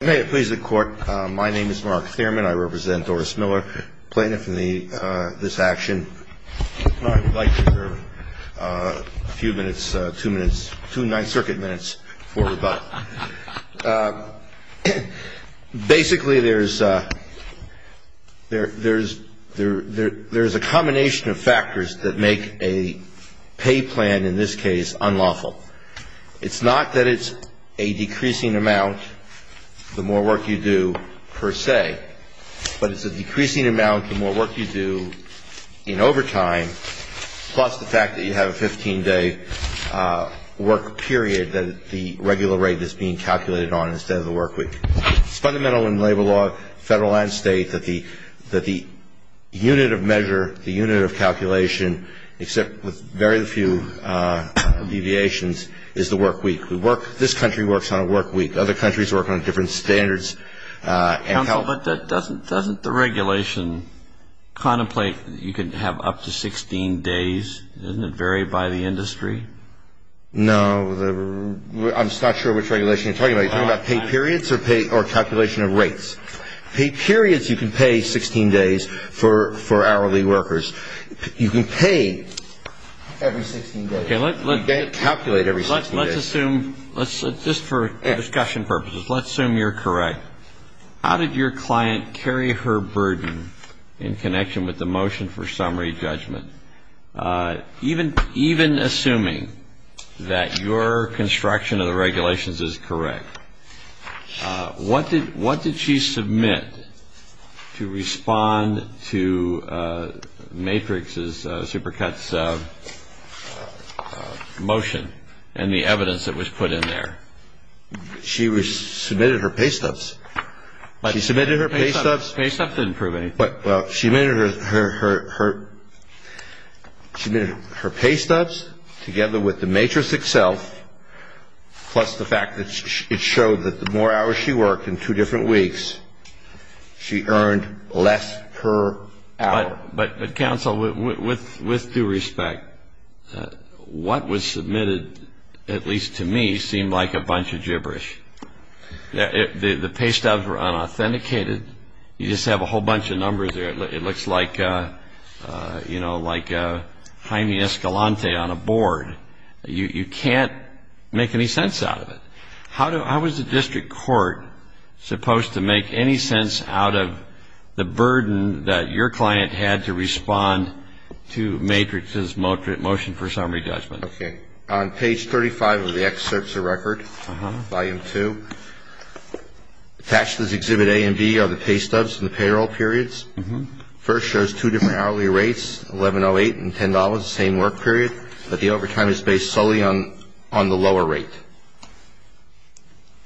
May it please the Court, my name is Mark Thierman. I represent Doris Miller, plaintiff in this action. I would like a few minutes, two minutes, two Ninth Circuit minutes for rebuttal. Basically, there's a combination of factors that make a pay plan, in this case, unlawful. It's not that it's a decreasing amount the more work you do per se, but it's a decreasing amount the more work you do in overtime, plus the fact that you have a 15-day work period that the regular rate is being calculated on instead of the work week. It's fundamental in labor law, federal and state, that the unit of measure, the unit of calculation, except with very few deviations, is the work week. This country works on a work week. Other countries work on different standards. Counsel, but doesn't the regulation contemplate that you can have up to 16 days? Doesn't it vary by the industry? No. I'm just not sure which regulation you're talking about. Are you talking about pay periods or calculation of rates? Pay periods. You can pay 16 days for hourly workers. You can pay every 16 days. You can't calculate every 16 days. Let's assume, just for discussion purposes, let's assume you're correct. How did your client carry her burden in connection with the motion for summary judgment? Even assuming that your construction of the regulations is correct, what did she submit to respond to Matrix's, Supercut's, motion and the evidence that was put in there? She submitted her pay stubs. She submitted her pay stubs? Pay stubs didn't prove anything. She submitted her pay stubs together with the matrix itself, plus the fact that it showed that the more hours she worked in two different weeks, she earned less per hour. But, Counsel, with due respect, what was submitted, at least to me, seemed like a bunch of gibberish. The pay stubs were unauthenticated. You just have a whole bunch of numbers there. It looks like, you know, like Jaime Escalante on a board. You can't make any sense out of it. How was the district court supposed to make any sense out of the burden that your client had to respond to Matrix's motion for summary judgment? Okay. On page 35 of the excerpts of record, volume 2, attached to this exhibit A and B are the pay stubs and the payroll periods. First shows two different hourly rates, $11.08 and $10, the same work period. But the overtime is based solely on the lower rate.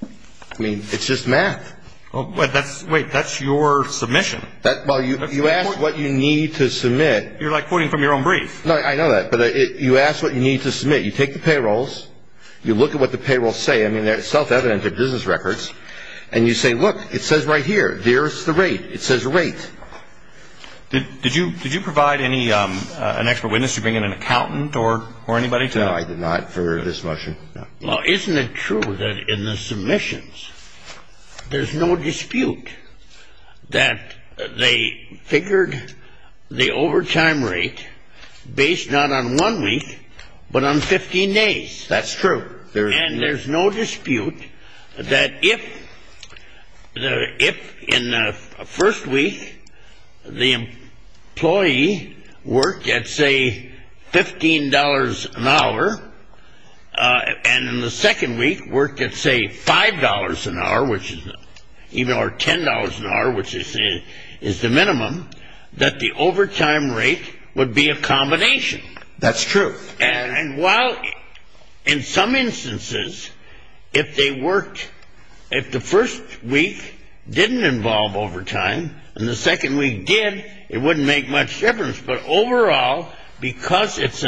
I mean, it's just math. Wait, that's your submission. Well, you asked what you need to submit. You're like quoting from your own brief. No, I know that. But you asked what you need to submit. You take the payrolls. You look at what the payrolls say. I mean, they're self-evident. They're business records. And you say, look, it says right here, there's the rate. It says rate. Did you provide an expert witness? Did you bring in an accountant or anybody? No, I did not for this motion. Well, isn't it true that in the submissions there's no dispute that they figured the overtime rate based not on one week but on 15 days? That's true. And there's no dispute that if in the first week the employee worked at, say, $15 an hour, and in the second week worked at, say, $5 an hour or $10 an hour, which is the minimum, that the overtime rate would be a combination. That's true. And while in some instances if the first week didn't involve overtime and the second week did, it wouldn't make much difference. But overall, because it's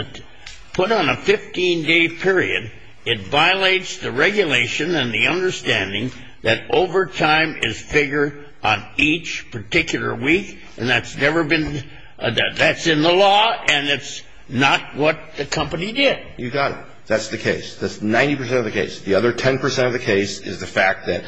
put on a 15-day period, it violates the regulation and the understanding that overtime is figured on each particular week, and that's in the law, and it's not what the company did. You got it. That's the case. That's 90 percent of the case. The other 10 percent of the case is the fact that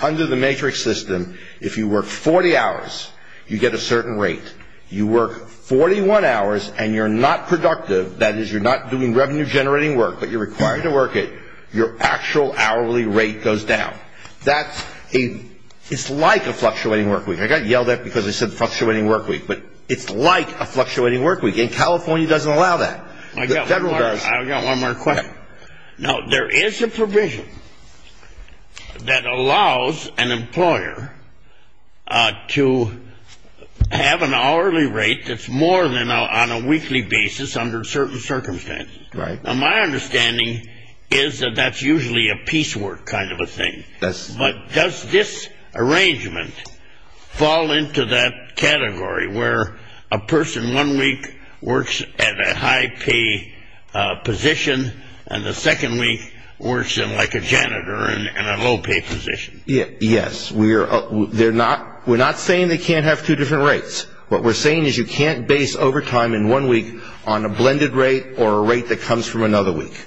under the matrix system, if you work 40 hours, you get a certain rate. You work 41 hours and you're not productive, that is, you're not doing revenue-generating work, but you're required to work it, your actual hourly rate goes down. That's a – it's like a fluctuating work week. I got yelled at because I said fluctuating work week, but it's like a fluctuating work week, and California doesn't allow that. The federal does. I've got one more question. Go ahead. Now, there is a provision that allows an employer to have an hourly rate that's more than on a weekly basis under certain circumstances. Now, my understanding is that that's usually a piecework kind of a thing. But does this arrangement fall into that category where a person one week works at a high-pay position and the second week works in like a janitor in a low-pay position? Yes. We're not saying they can't have two different rates. What we're saying is you can't base overtime in one week on a blended rate or a rate that comes from another week.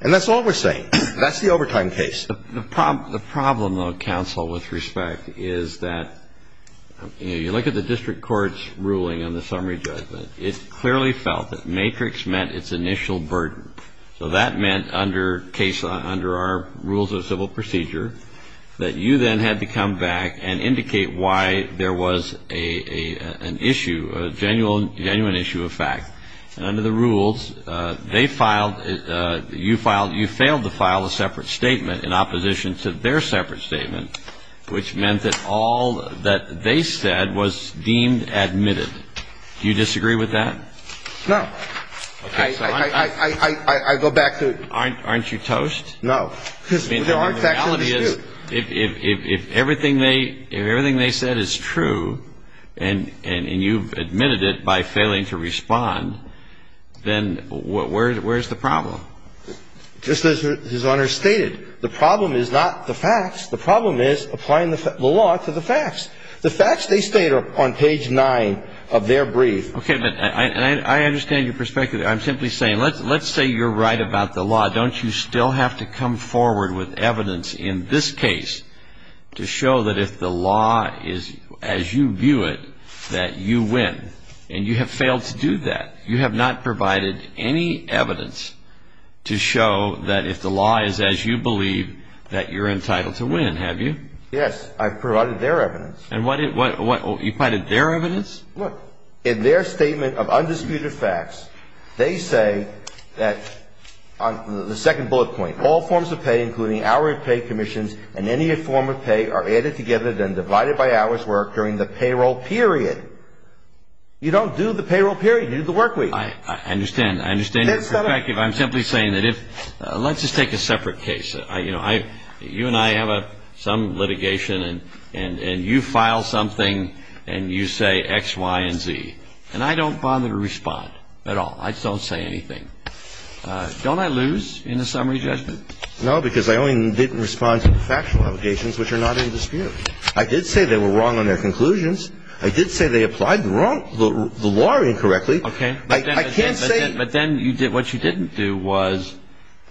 And that's all we're saying. That's the overtime case. The problem, though, counsel, with respect, is that you look at the district court's ruling on the summary judgment. It clearly felt that matrix meant its initial burden. So that meant under our rules of civil procedure that you then had to come back and indicate why there was an issue, a genuine issue of fact. And under the rules, they filed, you filed, you failed to file a separate statement in opposition to their separate statement, which meant that all that they said was deemed admitted. Do you disagree with that? No. I go back to. Aren't you toast? No. The reality is if everything they said is true and you've admitted it by failing to respond, then where's the problem? Just as His Honor stated, the problem is not the facts. The problem is applying the law to the facts. The facts they state are on page 9 of their brief. Okay. But I understand your perspective. I'm simply saying let's say you're right about the law. Don't you still have to come forward with evidence in this case to show that if the law is as you view it, that you win? And you have failed to do that. You have not provided any evidence to show that if the law is as you believe, that you're entitled to win, have you? Yes. I've provided their evidence. You provided their evidence? Look, in their statement of undisputed facts, they say that on the second bullet point, all forms of pay including hourly pay commissions and any form of pay are added together then divided by hours worked during the payroll period. You don't do the payroll period. You do the work week. I understand. I understand your perspective. I'm simply saying that if let's just take a separate case. You and I have some litigation and you file something and you say X, Y, and Z. And I don't bother to respond at all. I don't say anything. Don't I lose in the summary judgment? No, because I only did respond to the factual allegations which are not in dispute. I did say they were wrong on their conclusions. I did say they applied the law incorrectly. Okay. But then what you didn't do was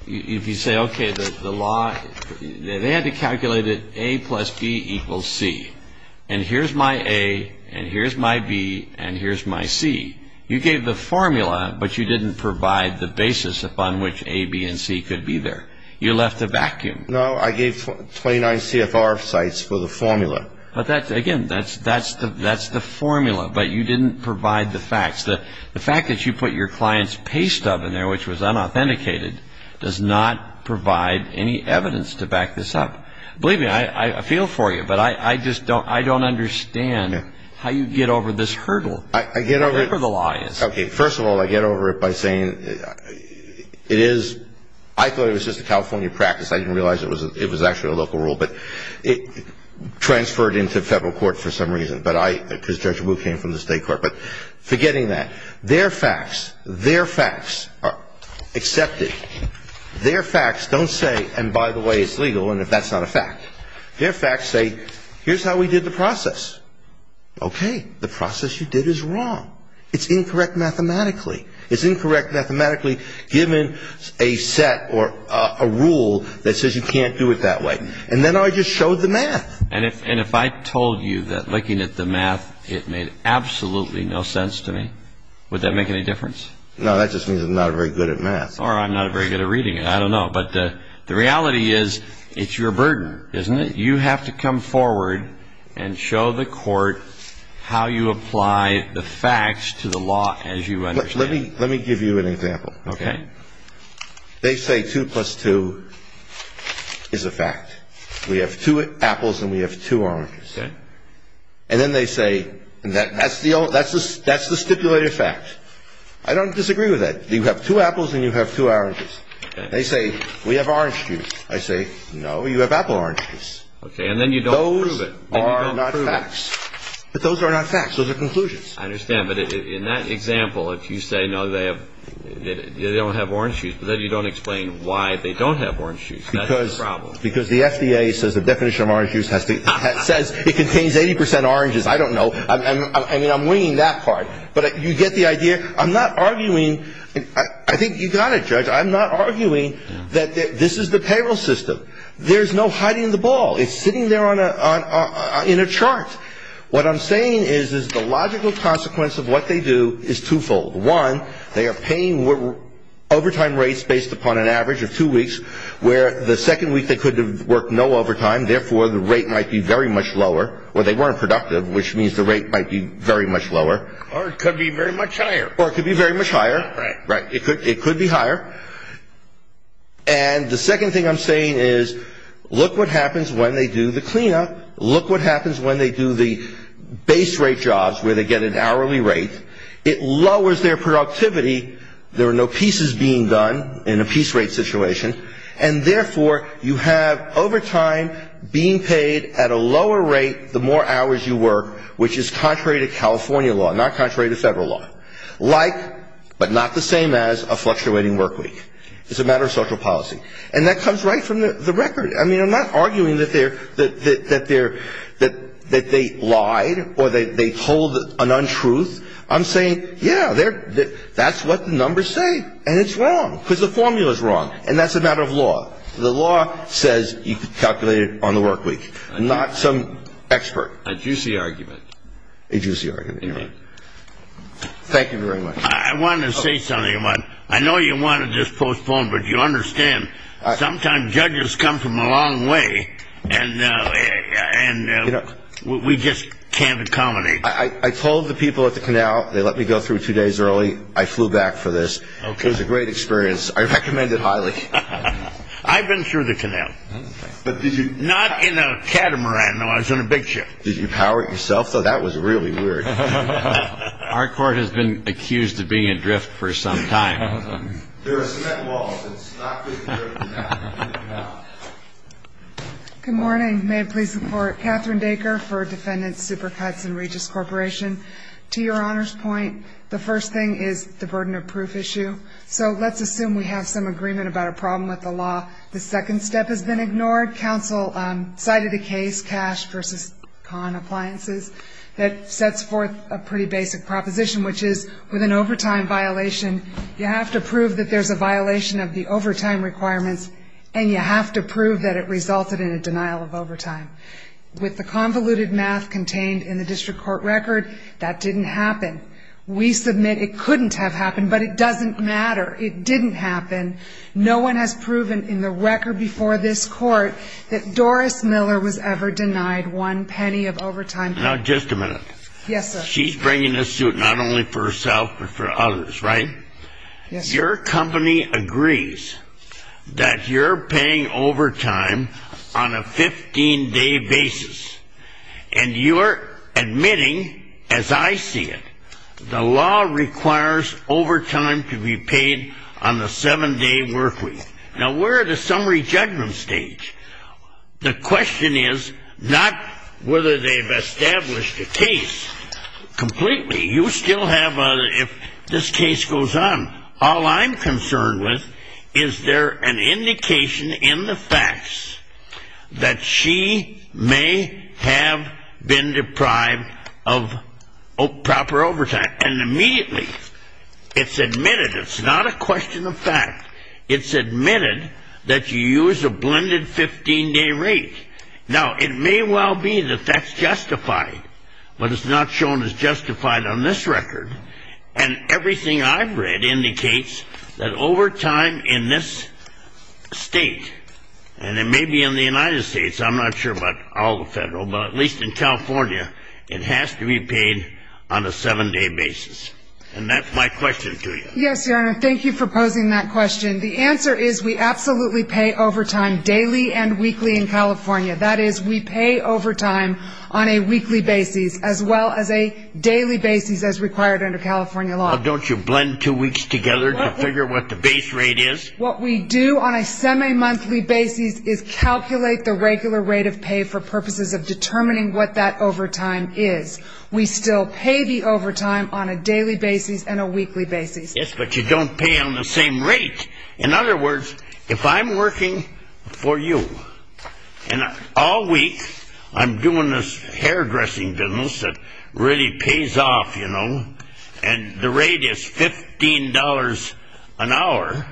if you say, okay, the law, they had to calculate it A plus B equals C. And here's my A and here's my B and here's my C. You gave the formula, but you didn't provide the basis upon which A, B, and C could be there. You left a vacuum. No, I gave 29 CFR sites for the formula. Again, that's the formula, but you didn't provide the facts. The fact that you put your client's pay stub in there, which was unauthenticated, does not provide any evidence to back this up. Believe me, I feel for you, but I just don't understand how you get over this hurdle, whatever the law is. Okay. First of all, I get over it by saying it is ‑‑ I thought it was just a California practice. I didn't realize it was actually a local rule. But it transferred into federal court for some reason because Judge Wu came from the state court. But forgetting that, their facts, their facts are accepted. Their facts don't say, and by the way, it's legal, and if that's not a fact. Their facts say, here's how we did the process. Okay. The process you did is wrong. It's incorrect mathematically. It's incorrect mathematically given a set or a rule that says you can't do it that way. And then I just showed the math. And if I told you that looking at the math, it made absolutely no sense to me, would that make any difference? No, that just means I'm not very good at math. Or I'm not very good at reading it. I don't know. But the reality is it's your burden, isn't it? You have to come forward and show the court how you apply the facts to the law as you understand it. Let me give you an example. Okay. They say 2 plus 2 is a fact. We have 2 apples and we have 2 oranges. Okay. And then they say that's the stipulated fact. I don't disagree with that. You have 2 apples and you have 2 oranges. Okay. They say we have orange juice. I say, no, you have apple orange juice. Okay. And then you don't prove it. Those are not facts. But those are not facts. Those are conclusions. I understand. But in that example, if you say, no, they don't have orange juice, then you don't explain why they don't have orange juice. That's the problem. Because the FDA says the definition of orange juice says it contains 80 percent oranges. I don't know. I mean, I'm winging that part. But you get the idea. I'm not arguing. I think you got it, Judge. I'm not arguing that this is the payroll system. There's no hiding the ball. It's sitting there in a chart. What I'm saying is the logical consequence of what they do is twofold. One, they are paying overtime rates based upon an average of two weeks, where the second week they could have worked no overtime. Therefore, the rate might be very much lower. Or they weren't productive, which means the rate might be very much lower. Or it could be very much higher. Or it could be very much higher. Right. Right. It could be higher. And the second thing I'm saying is look what happens when they do the cleanup. Look what happens when they do the base rate jobs where they get an hourly rate. It lowers their productivity. There are no pieces being done in a piece rate situation. And, therefore, you have overtime being paid at a lower rate the more hours you work, which is contrary to California law, not contrary to federal law. Like but not the same as a fluctuating work week. It's a matter of social policy. And that comes right from the record. I mean, I'm not arguing that they lied or they told an untruth. I'm saying, yeah, that's what the numbers say. And it's wrong because the formula is wrong. And that's a matter of law. The law says you can calculate it on the work week. I'm not some expert. A juicy argument. A juicy argument. Thank you very much. I want to say something. I know you want to just postpone, but you understand. Sometimes judges come from a long way, and we just can't accommodate. I told the people at the canal they let me go through two days early. I flew back for this. It was a great experience. I recommend it highly. I've been through the canal. Not in a catamaran, though. I was in a big ship. Did you power it yourself? That was really weird. Our court has been accused of being adrift for some time. There are cement walls. It's not good for the canal. Good morning. May it please the Court. Catherine Baker for Defendant Supercuts and Regis Corporation. To your Honor's point, the first thing is the burden of proof issue. So let's assume we have some agreement about a problem with the law. The second step has been ignored. Counsel cited a case, Cash v. Con Appliances, that sets forth a pretty basic proposition, which is with an overtime violation, you have to prove that there's a violation of the overtime requirements, and you have to prove that it resulted in a denial of overtime. With the convoluted math contained in the district court record, that didn't happen. We submit it couldn't have happened, but it doesn't matter. It didn't happen. No one has proven in the record before this Court that Doris Miller was ever denied one penny of overtime. Now, just a minute. Yes, sir. She's bringing this suit not only for herself but for others, right? Yes, sir. Your company agrees that you're paying overtime on a 15-day basis, and you're admitting, as I see it, the law requires overtime to be paid on a 7-day work week. Now, we're at a summary judgment stage. The question is not whether they've established a case completely. You still have a – if this case goes on, all I'm concerned with is there an indication in the facts that she may have been deprived of proper overtime, and immediately it's admitted. It's not a question of fact. It's admitted that you use a blended 15-day rate. Now, it may well be that that's justified, but it's not shown as justified on this record. And everything I've read indicates that overtime in this state, and it may be in the United States, I'm not sure about all the federal, but at least in California, it has to be paid on a 7-day basis. And that's my question to you. Yes, Your Honor, thank you for posing that question. The answer is we absolutely pay overtime daily and weekly in California. That is, we pay overtime on a weekly basis as well as a daily basis as required under California law. Well, don't you blend two weeks together to figure what the base rate is? What we do on a semi-monthly basis is calculate the regular rate of pay for purposes of determining what that overtime is. We still pay the overtime on a daily basis and a weekly basis. But you don't pay on the same rate. In other words, if I'm working for you and all week I'm doing this hairdressing business that really pays off, you know, and the rate is $15 an hour,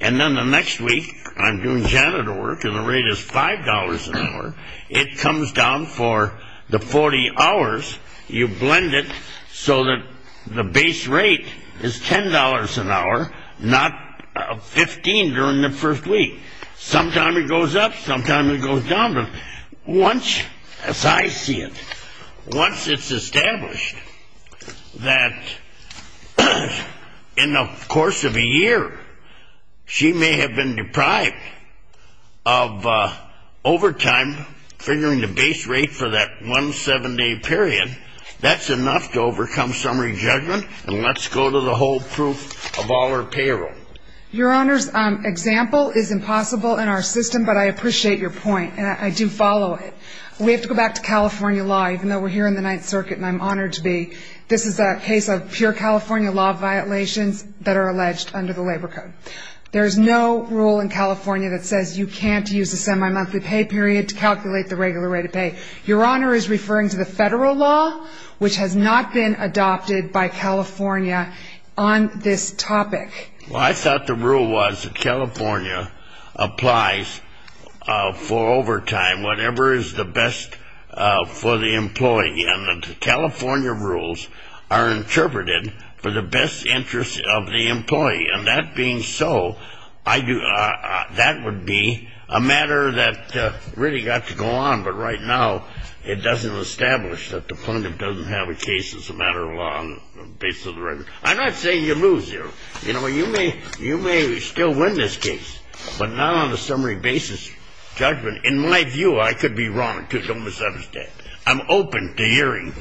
and then the next week I'm doing janitor work and the rate is $5 an hour, it comes down for the 40 hours you blend it so that the base rate is $10 an hour, not $15 during the first week. Sometimes it goes up, sometimes it goes down. Once, as I see it, once it's established that in the course of a year she may have been deprived of overtime, figuring the base rate for that one seven-day period, that's enough to overcome summary judgment, and let's go to the whole proof of all her payroll. Your Honor's example is impossible in our system, but I appreciate your point, and I do follow it. We have to go back to California law, even though we're here in the Ninth Circuit and I'm honored to be. This is a case of pure California law violations that are alleged under the Labor Code. There is no rule in California that says you can't use a semi-monthly pay period to calculate the regular rate of pay. Your Honor is referring to the Federal law, which has not been adopted by California on this topic. Well, I thought the rule was that California applies for overtime whatever is the best for the employee, and the California rules are interpreted for the best interest of the employee. And that being so, that would be a matter that really got to go on, but right now it doesn't establish that the pundit doesn't have a case as a matter of law on the basis of the record. I'm not saying you lose here. You know, you may still win this case, but not on a summary basis judgment. In my view, I could be wrong, too. Don't misunderstand. I'm open to hearing.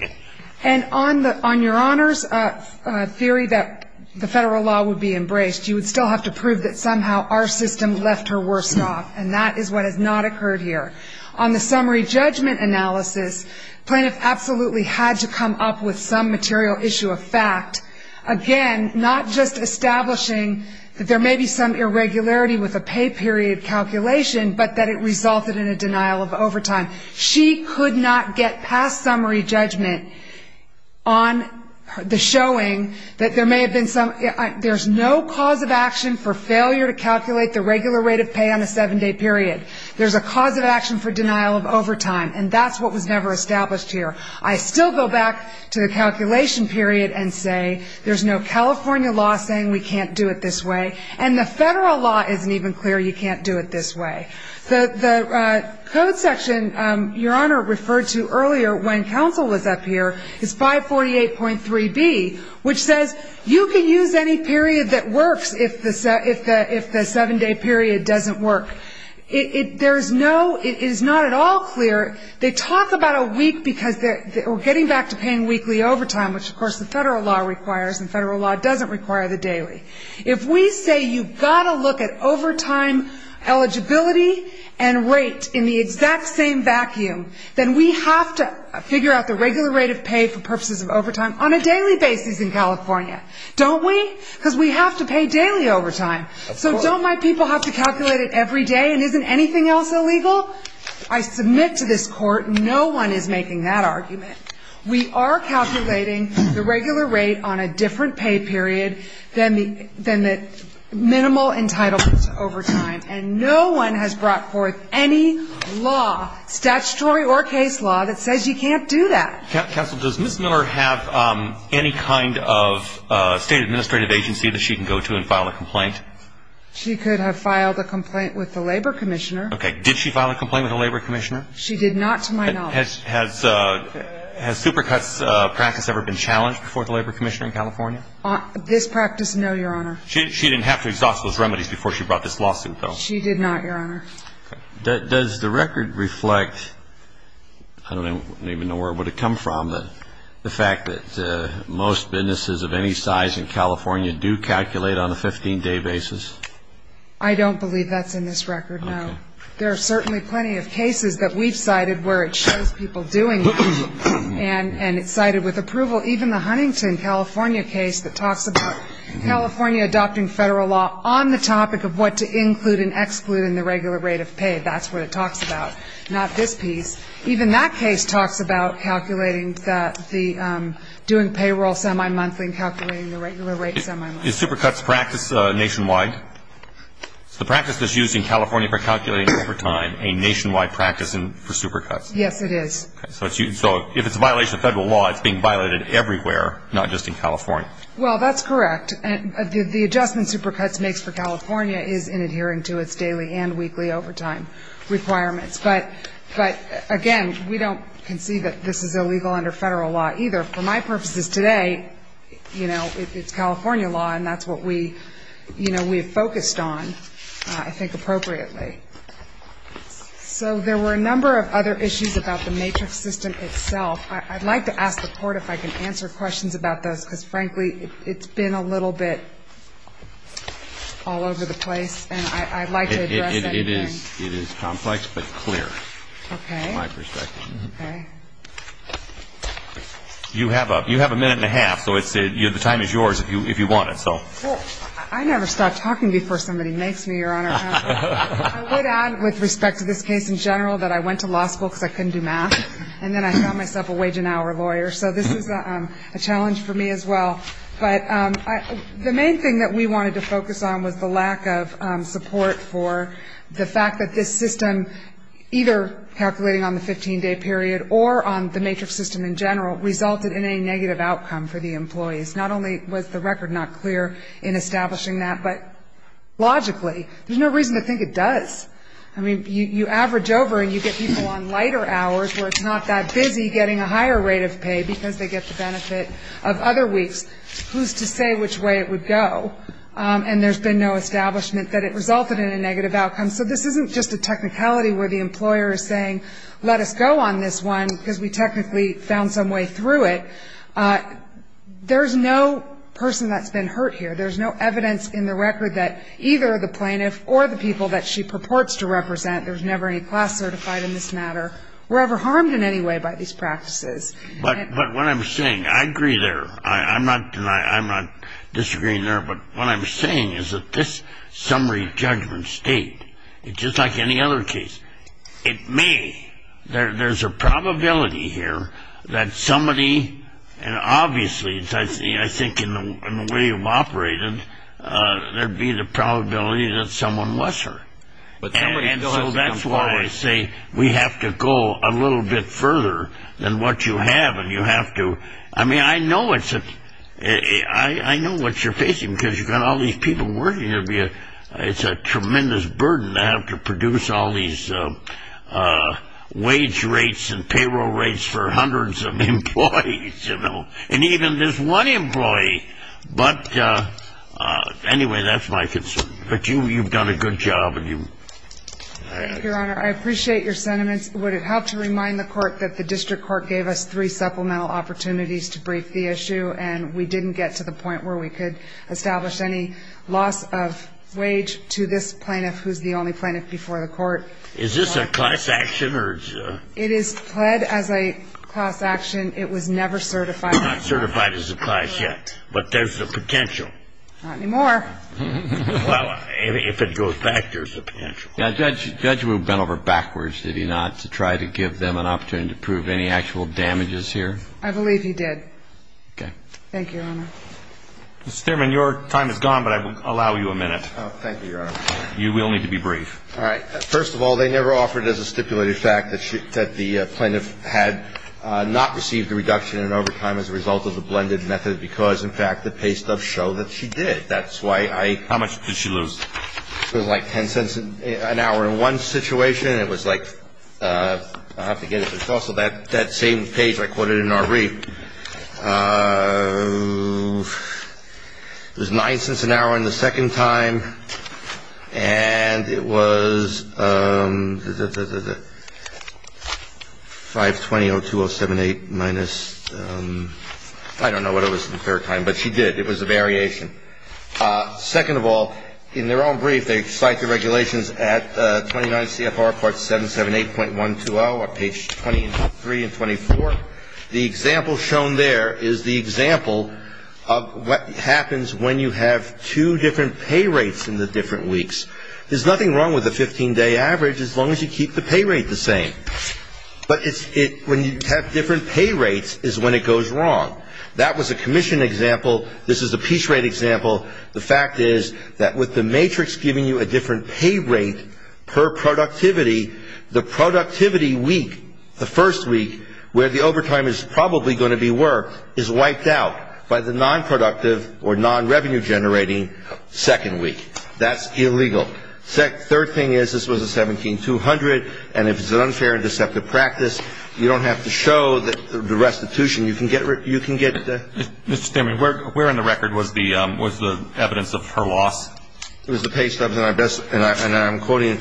And on your Honor's theory that the Federal law would be embraced, you would still have to prove that somehow our system left her worse off, and that is what has not occurred here. On the summary judgment analysis, plaintiff absolutely had to come up with some material issue of fact. Again, not just establishing that there may be some irregularity with a pay period calculation, but that it resulted in a denial of overtime. She could not get past summary judgment on the showing that there may have been some, there's no cause of action for failure to calculate the regular rate of pay on a seven-day period. There's a cause of action for denial of overtime, and that's what was never established here. I still go back to the calculation period and say there's no California law saying we can't do it this way, and the Federal law isn't even clear you can't do it this way. The code section your Honor referred to earlier when counsel was up here is 548.3b, which says you can use any period that works if the seven-day period doesn't work. It is not at all clear. They talk about a week because we're getting back to paying weekly overtime, which of course the Federal law requires and the Federal law doesn't require the daily. If we say you've got to look at overtime eligibility and rate in the exact same vacuum, then we have to figure out the regular rate of pay for purposes of overtime on a daily basis in California. Don't we? Because we have to pay daily overtime. So don't my people have to calculate it every day and isn't anything else illegal? I submit to this Court no one is making that argument. We are calculating the regular rate on a different pay period than the minimal entitlement to overtime, and no one has brought forth any law, statutory or case law, that says you can't do that. Counsel, does Ms. Miller have any kind of State administrative agency that she can go to and file a complaint? She could have filed a complaint with the Labor Commissioner. Okay. Did she file a complaint with the Labor Commissioner? She did not to my knowledge. Has super cuts practice ever been challenged before the Labor Commissioner in California? This practice, no, Your Honor. She didn't have to exhaust those remedies before she brought this lawsuit, though? She did not, Your Honor. Does the record reflect, I don't even know where it would have come from, the fact that most businesses of any size in California do calculate on a 15-day basis? I don't believe that's in this record, no. There are certainly plenty of cases that we've cited where it shows people doing that, and it's cited with approval. Even the Huntington, California case that talks about California adopting Federal law on the topic of what to include and exclude in the regular rate of pay, that's what it talks about, not this piece. Even that case talks about doing payroll semi-monthly and calculating the regular rate semi-monthly. Is super cuts practice nationwide? Is the practice that's used in California for calculating over time a nationwide practice for super cuts? Yes, it is. So if it's a violation of Federal law, it's being violated everywhere, not just in California. Well, that's correct. The adjustment super cuts makes for California is in adhering to its daily and weekly overtime requirements. But, again, we don't concede that this is illegal under Federal law either. For my purposes today, you know, it's California law, and that's what we've focused on, I think, appropriately. So there were a number of other issues about the matrix system itself. I'd like to ask the Court if I can answer questions about this, because, frankly, it's been a little bit all over the place. And I'd like to address anything. It is complex, but clear. Okay. From my perspective. Okay. You have a minute and a half, so the time is yours if you want it. Well, I never stop talking before somebody makes me, Your Honor. I would add, with respect to this case in general, that I went to law school because I couldn't do math. And then I found myself a wage and hour lawyer. So this is a challenge for me as well. But the main thing that we wanted to focus on was the lack of support for the fact that this system, either calculating on the 15-day period or on the matrix system in general, resulted in a negative outcome for the employees. Not only was the record not clear in establishing that, but logically, there's no reason to think it does. I mean, you average over and you get people on lighter hours where it's not that busy getting a higher rate of pay because they get the benefit of other weeks. Who's to say which way it would go? And there's been no establishment that it resulted in a negative outcome. So this isn't just a technicality where the employer is saying, let us go on this one, because we technically found some way through it. There's no person that's been hurt here. There's no evidence in the record that either the plaintiff or the people that she purports to represent, there's never any class certified in this matter, were ever harmed in any way by these practices. But what I'm saying, I agree there. I'm not disagreeing there. But what I'm saying is that this summary judgment state, just like any other case, it may. There's a probability here that somebody, and obviously, I think in the way you've operated, there'd be the probability that someone was her. And so that's why I say we have to go a little bit further than what you have and you have to. I mean, I know what you're facing because you've got all these people working here. It's a tremendous burden to have to produce all these wage rates and payroll rates for hundreds of employees, you know, and even this one employee. But anyway, that's my concern. But you've done a good job. Your Honor, I appreciate your sentiments. Would it help to remind the court that the district court gave us three supplemental opportunities to brief the issue and we didn't get to the point where we could establish any loss of wage to this plaintiff, who's the only plaintiff before the court? Is this a class action? It is pled as a class action. It was never certified. It's not certified as a class yet. But there's the potential. Not anymore. Well, if it goes back, there's the potential. The judge went over backwards, did he not, to try to give them an opportunity to prove any actual damages here? I believe he did. Okay. Thank you, Your Honor. Mr. Thierman, your time is gone, but I will allow you a minute. Oh, thank you, Your Honor. You will need to be brief. All right. First of all, they never offered as a stipulated fact that the plaintiff had not received a reduction in overtime as a result of the blended method because, in fact, the paystubs show that she did. That's why I ---- How much did she lose? It was like 10 cents an hour in one situation. It was like ---- I have to get it. It's also that same page I quoted in our brief. It was nine cents an hour in the second time. And it was 520-02078 minus ---- I don't know what it was in the third time, but she did. It was a variation. Second of all, in their own brief, they cite the regulations at 29 CFR Part 778.120 on page 23 and 24. The example shown there is the example of what happens when you have two different pay rates in the different weeks. There's nothing wrong with a 15-day average as long as you keep the pay rate the same. But when you have different pay rates is when it goes wrong. That was a commission example. This is a piece rate example. The fact is that with the matrix giving you a different pay rate per productivity, the productivity week, the first week where the overtime is probably going to be work, is wiped out by the nonproductive or nonrevenue-generating second week. That's illegal. Third thing is this was a 17-200, and if it's an unfair and deceptive practice, you don't have to show the restitution. You can get ---- Mr. Stinman, where in the record was the evidence of her loss? It was the pay stubs. And I'm quoting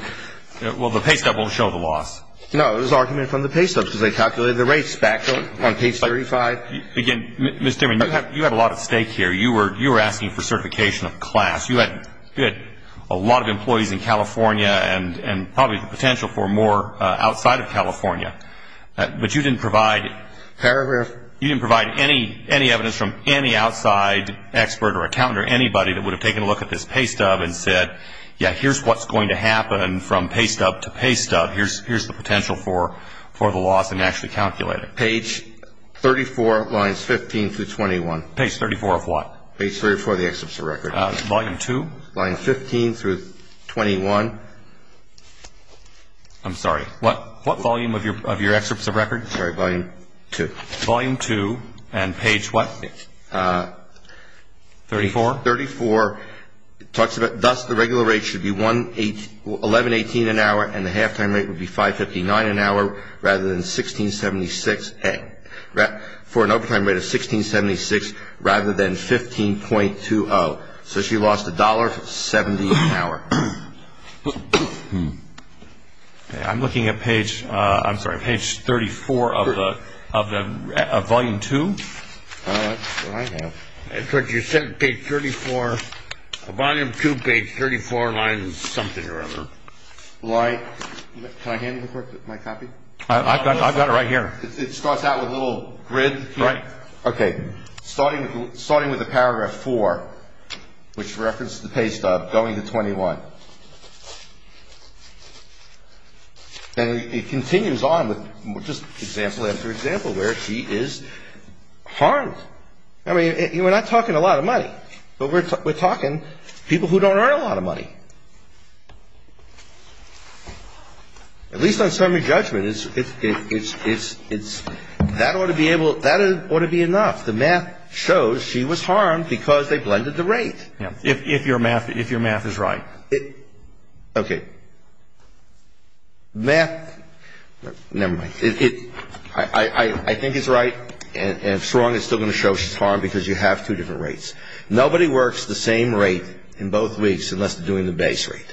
---- Well, the pay stub won't show the loss. No. It was argument from the pay stubs because they calculated the rates back on page 35. Again, Mr. Stinman, you have a lot at stake here. You were asking for certification of class. You had a lot of employees in California and probably the potential for more outside of California. But you didn't provide ---- Paragraph. You didn't provide any evidence from any outside expert or accountant or anybody that would have taken a look at this pay stub and said, yeah, here's what's going to happen from pay stub to pay stub. Here's the potential for the loss and actually calculate it. Page 34, lines 15 through 21. Page 34 of what? Page 34 of the excerpts of record. Volume 2? Lines 15 through 21. I'm sorry. What volume of your excerpts of record? Sorry, volume 2. Volume 2 and page what? 34? 34. It talks about, thus, the regular rate should be $11.18 an hour and the halftime rate would be $5.59 an hour rather than $16.76. For an overtime rate of $16.76 rather than $15.20. So she lost $1.70 an hour. I'm looking at page 34 of volume 2. That's what I have. You said page 34. Volume 2, page 34, lines something or other. Can I have my copy? I've got it right here. It starts out with a little grid? Right. Okay. Starting with the paragraph 4, which references the page stuff, going to 21. And it continues on with just example after example where she is harmed. I mean, we're not talking a lot of money, but we're talking people who don't earn a lot of money. At least on summary judgment, that ought to be enough. The math shows she was harmed because they blended the rate. If your math is right. Okay. Math, never mind. I think it's right, and if it's wrong, it's still going to show she's harmed because you have two different rates. Nobody works the same rate in both weeks unless they're doing the base rate.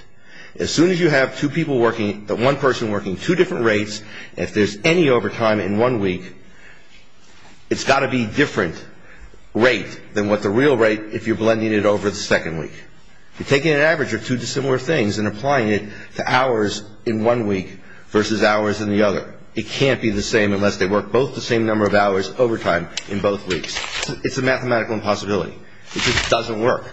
As soon as you have one person working two different rates, if there's any overtime in one week, it's got to be a different rate than the real rate if you're blending it over the second week. You're taking an average of two dissimilar things and applying it to hours in one week versus hours in the other. It can't be the same unless they work both the same number of hours overtime in both weeks. It's a mathematical impossibility. It just doesn't work,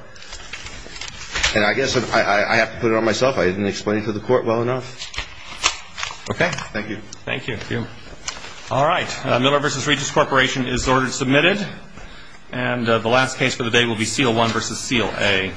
and I guess I have to put it on myself. I didn't explain it to the court well enough. Okay. Thank you. Thank you. All right. Miller v. Regents Corporation is ordered submitted, and the last case for the day will be seal one versus seal A.